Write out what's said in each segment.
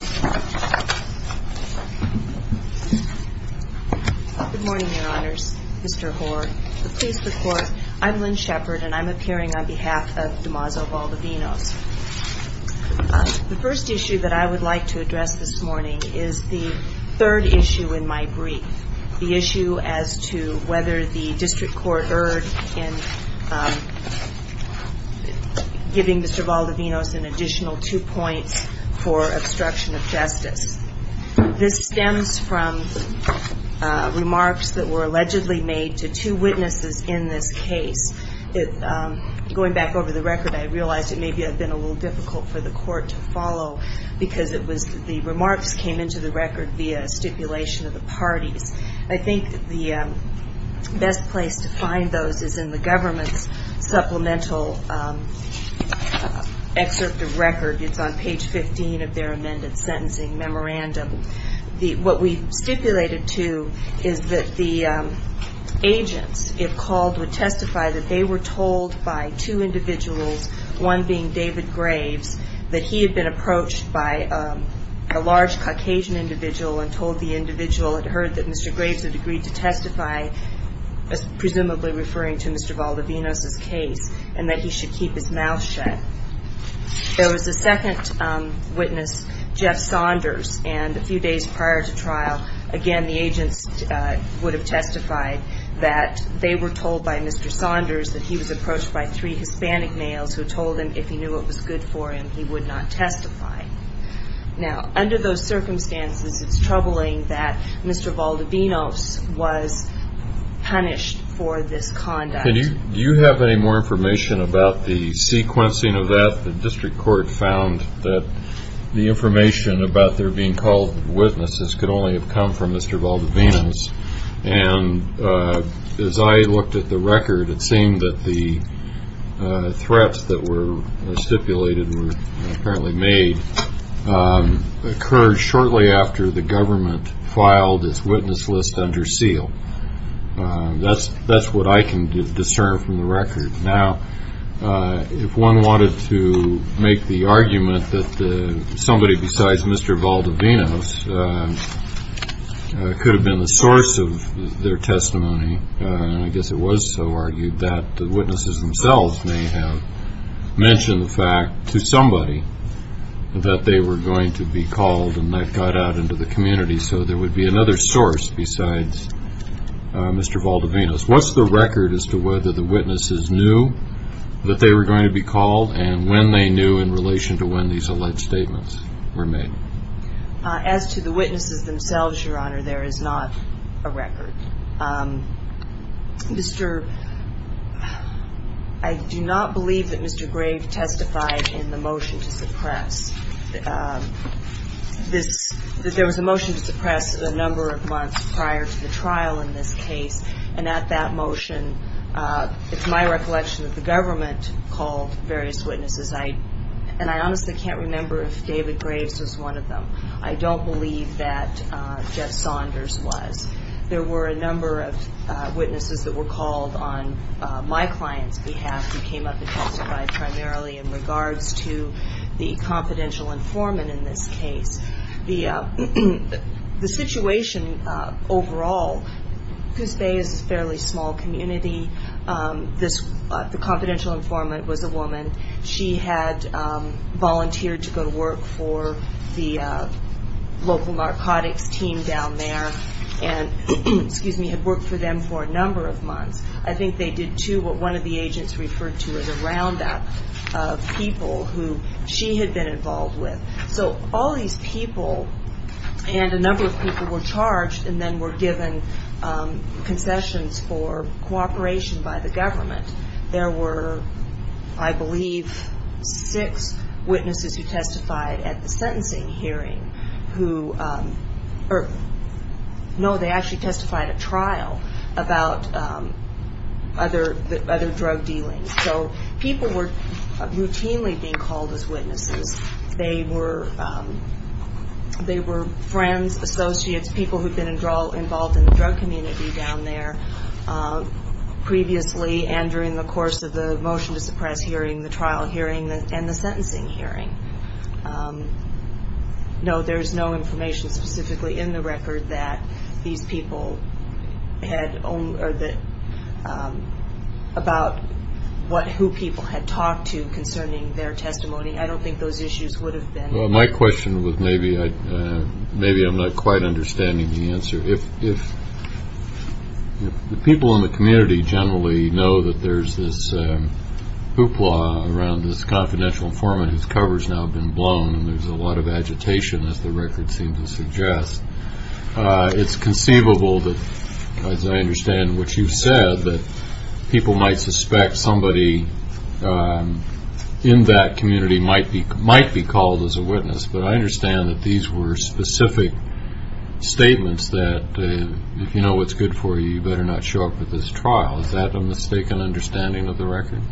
Good morning, your honors, Mr. Hoare, the police, the court. I'm Lynn Shepard and I'm appearing on behalf of DeMazzo Valdovinos. The first issue that I would like to address this morning is the third issue in my brief, the issue as to whether the district court was concerned in giving Mr. Valdovinos an additional two points for obstruction of justice. This stems from remarks that were allegedly made to two witnesses in this case. Going back over the record, I realized it may have been a little difficult for the court to follow because the remarks came into the record via stipulation of the parties. I think the best place to find those is in the government's supplemental excerpt of record. It's on page 15 of their amended sentencing memorandum. What we stipulated, too, is that the agents, if called, would testify that they were told by two individuals, one being David Graves, that he had been approached by a large Caucasian individual and told the individual had heard that Mr. Graves had agreed to testify, presumably referring to Mr. Valdovinos' case, and that he should keep his mouth shut. There was a second witness, Jeff Saunders, and a few days prior to trial, again, the agents would have testified that they were told by Mr. Saunders that he was approached by three Hispanic males who told him if he knew what was good for Mr. Valdovinos was punished for this conduct. Do you have any more information about the sequencing of that? The district court found that the information about there being called witnesses could only have come from Mr. Valdovinos. And as I looked at the record, it seemed that the threats that were stipulated were apparently made, occurred shortly after the government filed its witness list under seal. That's what I can discern from the record. Now, if one wanted to make the argument that somebody besides Mr. Valdovinos could have been the source of their testimony, I guess it was so argued that the witnesses themselves may have mentioned the fact to somebody that they were going to be called and that got out into the community. So there would be another source besides Mr. Valdovinos. What's the record as to whether the witnesses knew that they were going to be called and when they knew in relation to when these alleged statements were made? As to the witnesses themselves, Your Honor, there is not a record. I do not believe that Mr. Graves testified in the motion to suppress. There was a motion to suppress a number of months prior to the trial in this case, and at that motion, it's my recollection that the government called various witnesses. And I honestly can't remember if David Graves was one of them. I don't believe that Jeff Saunders was. There were a number of witnesses that were called on my client's behalf who came up and testified primarily in regards to the confidential informant in this case. The situation overall, Coos Bay is a fairly small community. The confidential informant was a woman. She had volunteered to go to work for the local narcotics team down there and had worked for them for a number of months. I think they did, too, what one of the agents referred to as a roundup of people who she had been involved with. So all these people and a number of people were charged and then were given concessions for cooperation by the government. There were, I believe, six witnesses who testified at the sentencing hearing. No, they actually testified at trial about other drug dealings. So people were routinely being called as witnesses. They were friends, associates, people who had been involved in the drug community down there previously and during the course of the motion to suppress hearing, the trial hearing, and the sentencing hearing. No, there's no information specifically in the record that these people had, about who people had talked to concerning their testimony. I don't think those issues would have been. My question was maybe I'm not quite understanding the answer. If the people in the community generally know that there's this hoopla around this confidential informant whose cover's now been blown and there's a lot of agitation, as the record seems to suggest, it's conceivable that, as I understand what you've said, that people might suspect somebody in that community might be called as a witness. But I understand that these were specific statements that if you know what's good for you, you better not show up at this trial. Is that a mistaken understanding of the record?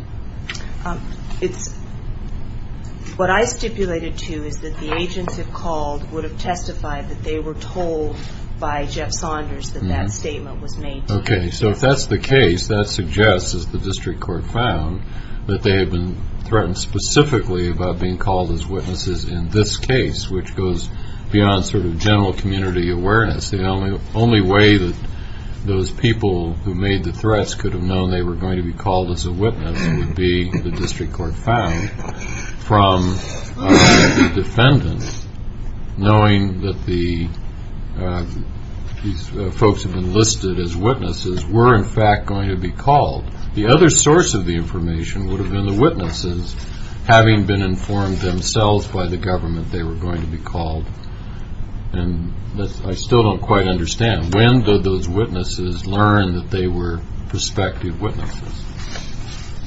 What I stipulated, too, is that the agents have called, would have testified that they were told by Jeff Saunders that that statement was made to him. Okay. So if that's the case, that suggests, as the district court found, that they had been threatened specifically about being called as witnesses in this case, which goes beyond sort of general community awareness. The only way that those people who made the threats could have known they were going to be called as a witness would be, the district court found, from the defendants, knowing that these folks have been listed as witnesses, were in fact going to be called. The other source of the information would have been the witnesses, having been informed themselves by the government they were going to be called. And I still don't quite understand. When did those witnesses learn that they were prospective witnesses?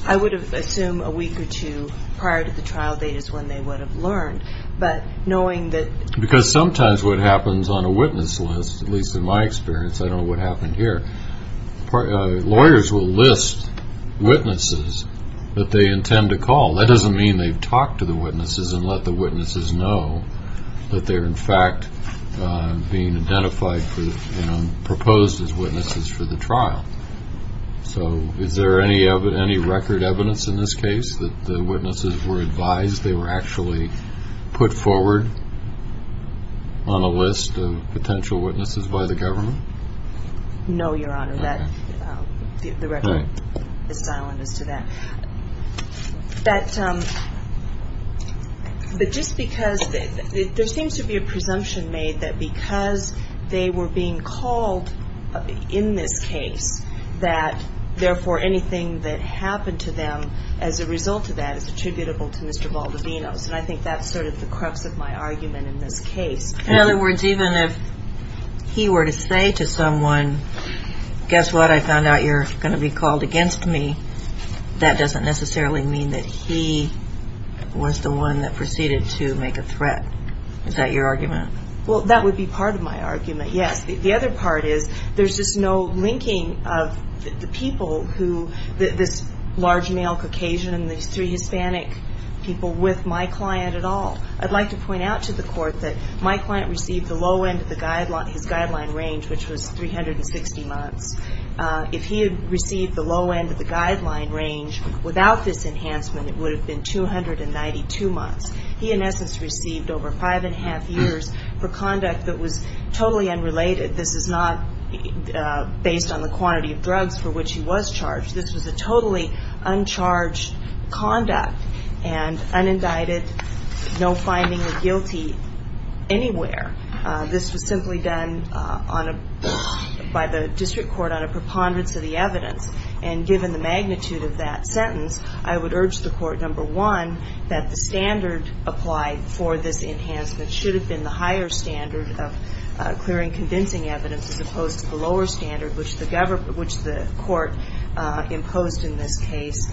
I would assume a week or two prior to the trial date is when they would have learned. But knowing that... Because sometimes what happens on a witness list, at least in my experience, I don't know what happened here, lawyers will list witnesses that they intend to call. That doesn't mean they've talked to the witnesses and let the witnesses know that they're in fact being identified for, you know, proposed as witnesses for the trial. So is there any record evidence in this case that the witnesses were advised they were actually put forward on a list of potential witnesses by the government? No, Your Honor. The record is silent as to that. But just because there seems to be a presumption made that because they were being called in this case, that therefore anything that happened to them as a result of that is attributable to Mr. Valdivinos. And I think that's sort of the crux of my argument in this case. In other words, even if he were to say to someone, guess what, I found out you're going to be called against me, that doesn't necessarily mean that he was the one that proceeded to make a threat. Is that your argument? Well, that would be part of my argument, yes. The other part is there's just no linking of the people who, this large male Caucasian and these three Hispanic people with my client at all. I'd like to point out to the Court that my client received the low end of his guideline range, which was 360 months. If he had received the low end of the guideline range without this enhancement, it would have been 292 months. He, in essence, received over five and a half years for conduct that was totally unrelated. This is not based on the quantity of drugs for which he was charged. This was a totally uncharged conduct and unindicted no finding of guilty anywhere. This was simply done by the District Court on a preponderance of the evidence. And given the magnitude of that sentence, I would urge the Court, number one, that the standard applied for this enhancement should have been the higher standard of clearing convincing evidence as opposed to the lower standard, which the Court imposed in this case.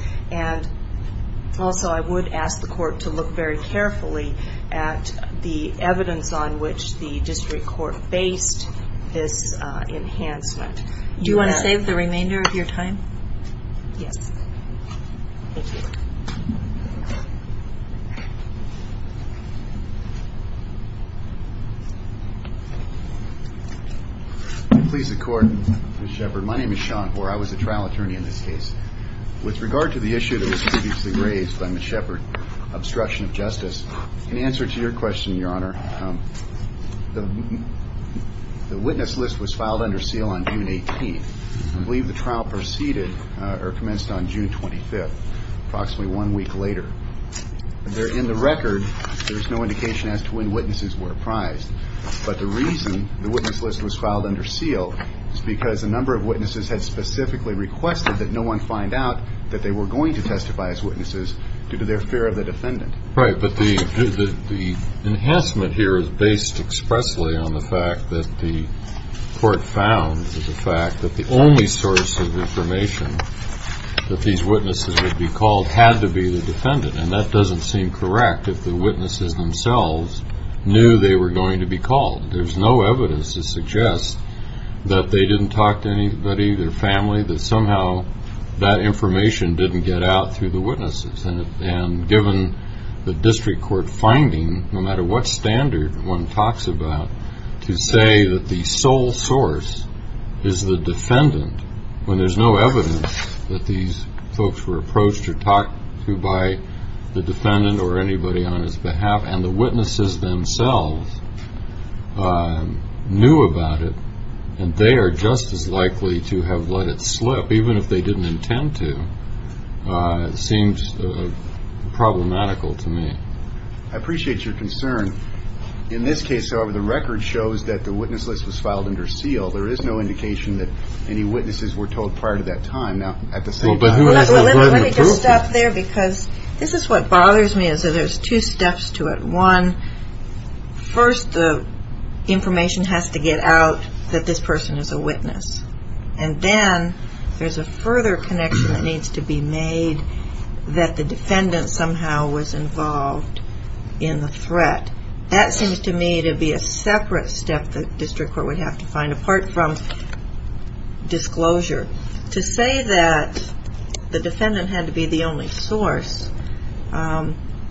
With regard to the issue that was previously raised by Ms. Shepard, obstruction of justice in answer to your question, Your Honor, the witness list was filed under seal on June 18th. I believe the trial proceeded or commenced on June 25th, approximately one week later. In the record, there is no indication as to when witnesses were apprised. But the reason the witness list was filed under seal is because a number of witnesses had specifically requested that no one find out that they were going to testify as witnesses due to their fear of the defendant. Right. But the enhancement here is based expressly on the fact that the Court found the fact that the only source of information that these witnesses would be called had to be the defendant. And that doesn't seem correct if the witnesses themselves knew they were going to be called. There's no evidence to suggest that they didn't talk to anybody, their family, that somehow that information didn't get out through the witnesses. And given the district court finding, no matter what standard one talks about, to say that the sole source is the defendant, when there's no evidence that these folks were approached or talked to by the defendant or anybody on his behalf, and the witnesses themselves knew about it, and they are just as likely to have let it slip, even if they didn't intend to, seems problematical to me. I appreciate your concern. In this case, however, the record shows that the witness list was filed under seal. There is no indication that any witnesses were told prior to that time. Now, at the same time... Let me just stop there because this is what bothers me is that there's two steps to it. One, first the information has to get out that this person is a witness. And then there's a further connection that needs to be made that the defendant somehow was involved in the threat. That seems to me to be a separate step that the district court would have to find, apart from disclosure. To say that the defendant had to be the only source,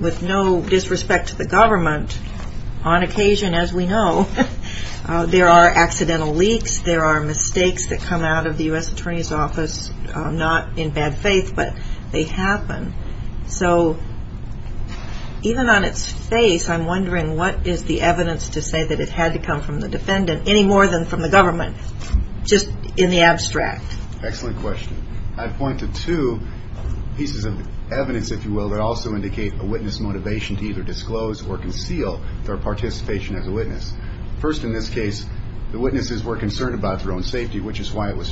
with no disrespect to the government, on occasion as we know, there are accidental leaks, there are mistakes that come out of faith, but they happen. So, even on its face, I'm wondering what is the evidence to say that it had to come from the defendant, any more than from the government, just in the abstract? Excellent question. I'd point to two pieces of evidence, if you will, that also indicate a witness motivation to either disclose or conceal their participation as a witness. First in this case, the witnesses were concerned about their own safety, which is why it was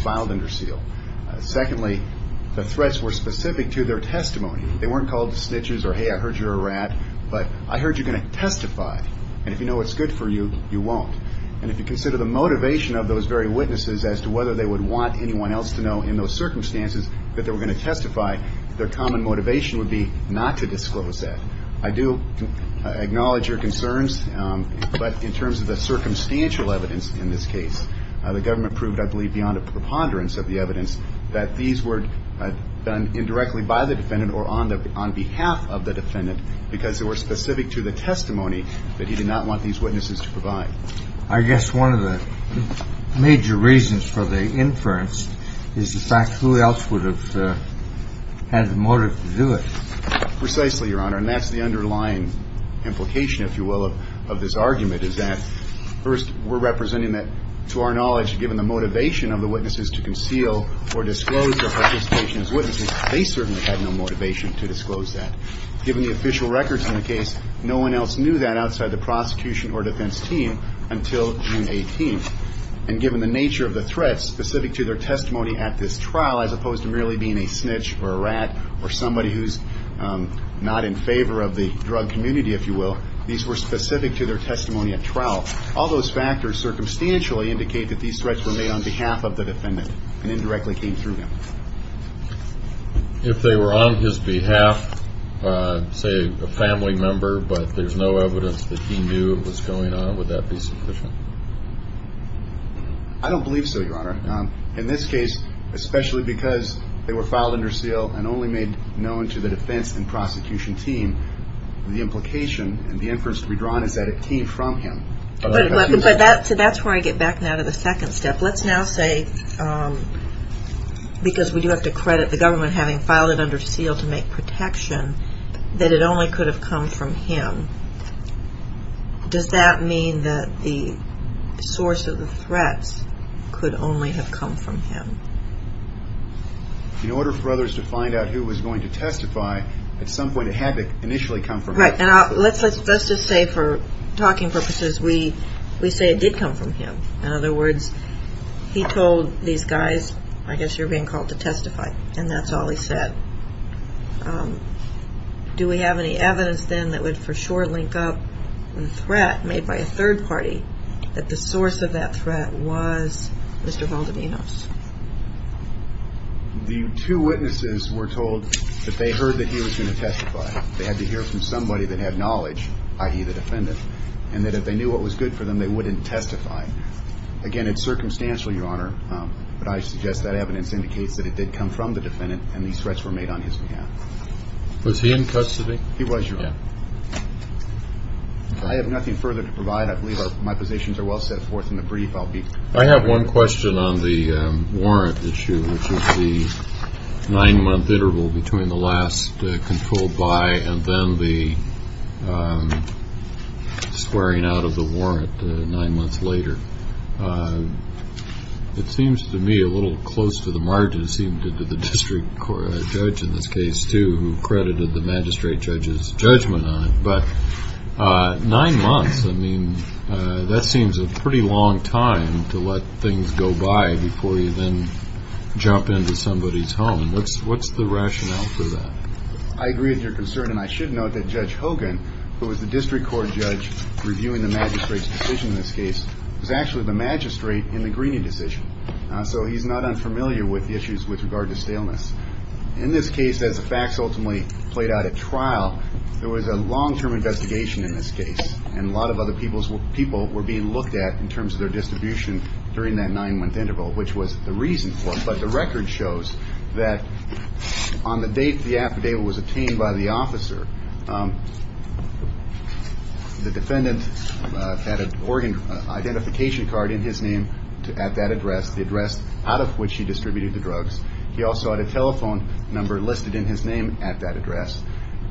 specific to their testimony. They weren't called snitches or, hey, I heard you're a rat, but I heard you're going to testify. And if you know what's good for you, you won't. And if you consider the motivation of those very witnesses as to whether they would want anyone else to know in those circumstances that they were going to testify, their common motivation would be not to disclose that. I do acknowledge your concerns, but in terms of the circumstantial evidence in this case, the government proved, I believe, beyond a preponderance of the evidence, that these were done indirectly by the defendant or on behalf of the defendant, because they were specific to the testimony that he did not want these witnesses to provide. I guess one of the major reasons for the inference is the fact who else would have had the motive to do it? Precisely, Your Honor, and that's the underlying implication, if you will, of this argument, is that, first, we're representing that, to our knowledge, given the motivation of the witnesses to conceal or disclose their participation as witnesses, they certainly had no motivation to disclose that. Given the official records in the case, no one else knew that outside the prosecution or defense team until June 18th. And given the nature of the threats specific to their testimony at this trial, as opposed to merely being a snitch or a rat or somebody who's not in favor of the drug community, if you will, these were specific to their testimony at trial, all those factors circumstantially indicate that these threats were made on behalf of the defendant and indirectly came through him. If they were on his behalf, say a family member, but there's no evidence that he knew what's going on, would that be sufficient? I don't believe so, Your Honor. In this case, especially because they were filed under seal and only made known to the defense and prosecution team, the implication and the inference to be drawn is that it came from him. But that's where I get back now to the second step. Let's now say, because we do have to credit the government having filed it under seal to make protection, that it only could have come from him. Does that mean that the source of the threats could only have come from him? In order for others to find out who was going to testify, at some point it had to initially come from him. Right. And let's just say for talking purposes, we say it did come from him. In other words, he told these guys, I guess you're being called to testify, and that's all he said. Do we have any evidence then that would for sure link up the threat made by a third party that the source of that threat was Mr. Valdivinos? The two witnesses were told that they heard that he was going to testify. They had to hear from somebody that had knowledge, i.e. the defendant, and that if they knew what was good for them, they wouldn't testify. Again, it's circumstantial, Your Honor, but I suggest that evidence indicates that it did come from the defendant and these threats were made on his behalf. Was he in custody? He was, Your Honor. I have nothing further to provide. I believe my positions are well set forth in the brief. I have one question on the warrant issue, which is the nine-month interval between the last controlled by and then the squaring out of the warrant nine months later. It seems to me a little close to the margin, it seems, did the district judge in this case too, who had a judgment on it, but nine months, I mean, that seems a pretty long time to let things go by before you then jump into somebody's home. What's the rationale for that? I agree with your concern, and I should note that Judge Hogan, who was the district court judge reviewing the magistrate's decision in this case, was actually the magistrate in the Greeney decision, so he's not unfamiliar with the issues with regard to staleness. In this case, as the facts ultimately played out at trial, there was a long-term investigation in this case, and a lot of other people were being looked at in terms of their distribution during that nine-month interval, which was the reason for it, but the record shows that on the date the affidavit was obtained by the officer, the defendant had an identification card in his name at that address, the address out of which he distributed the drugs. He also had a telephone number listed in his name at that address,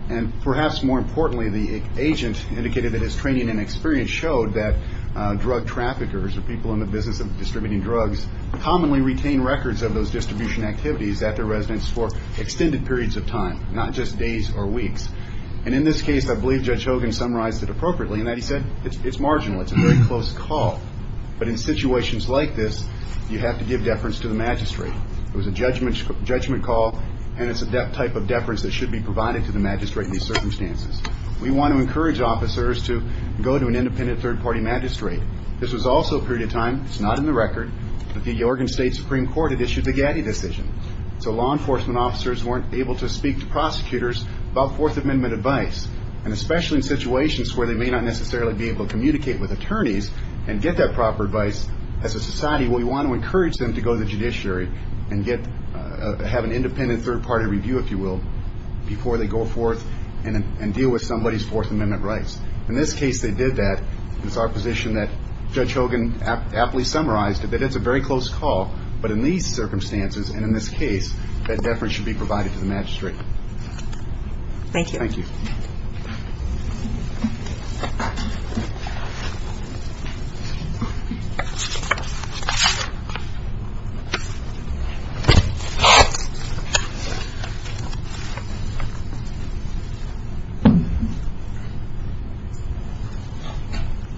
and perhaps more importantly, the agent indicated that his training and experience showed that drug traffickers or people in the business of distributing drugs commonly retain records of those distribution activities at their residence for extended periods of time, not just days or weeks, and in this case, I believe Judge Hogan summarized it appropriately in that he said it's marginal. It's a very close call, but in situations like this, you have to give deference to the judgment call, and it's a type of deference that should be provided to the magistrate in these circumstances. We want to encourage officers to go to an independent third-party magistrate. This was also a period of time, it's not in the record, that the Oregon State Supreme Court had issued the Gatti decision, so law enforcement officers weren't able to speak to prosecutors about Fourth Amendment advice, and especially in situations where they may not necessarily be able to communicate with attorneys and get that proper advice. As a society, we want to encourage them to go to the judiciary and have an independent third-party review, if you will, before they go forth and deal with somebody's Fourth Amendment rights. In this case, they did that. It's our position that Judge Hogan aptly summarized that it's a very close call, but in these circumstances and in this case, that deference should be provided to the magistrate. Thank you. Thank you.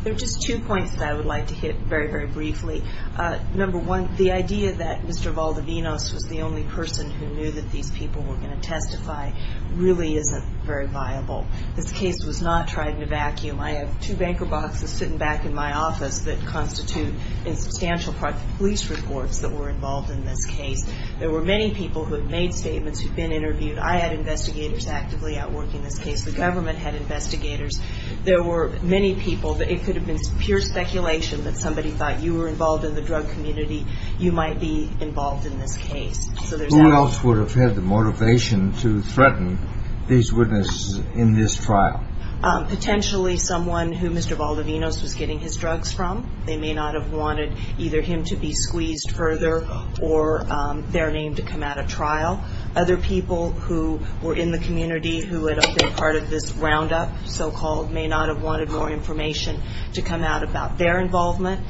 There are just two points that I would like to hit very, very briefly. Number one, the idea that Mr. Valdivinos was the only person who knew that these people were going to testify really isn't very viable. This case was not tried in a vacuum. I have two banker boxes sitting back in my office that constitute a substantial part of the police reports that were involved in this case. There were many people who had made statements, who'd been interviewed. I had investigators actively outworking this case. The government had investigators. There were many people that it could have been pure speculation that somebody thought you were involved in the drug community, you might be involved in this case. Who else would have had the motivation to threaten these witnesses in this trial? Potentially someone who Mr. Valdivinos was getting his drugs from. They may not have wanted either him to be squeezed further or their name to come out of trial. Other people who were in the community who had been part of this roundup, so-called, may not have wanted more information to come out about their involvement.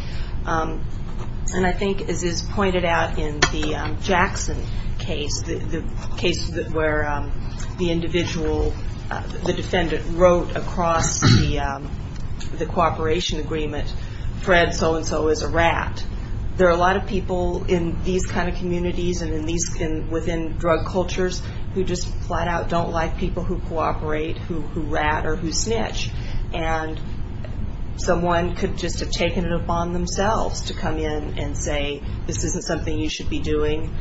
And I think as is pointed out in the Jackson case, the case where the individual, the defendant wrote across the cooperation agreement, Fred so-and-so is a rat. There are a lot of people in these kind of communities and within drug cultures who just flat out don't like people who cooperate, who rat or who snitch. And someone could just have taken it upon themselves to come in and say, this isn't something you should be doing.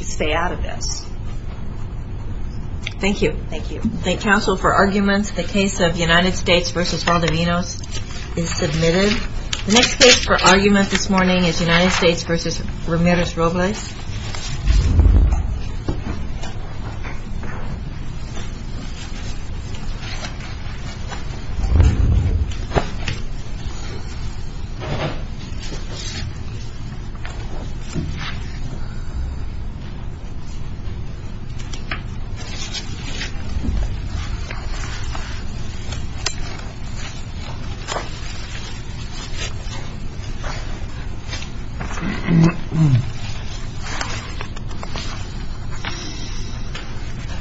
Stay out of this. Thank you. Thank you. Thank counsel for arguments. The case of United States v. Valdivinos is submitted. The next case for argument this morning is United States v. Ramirez-Robles. Thank you.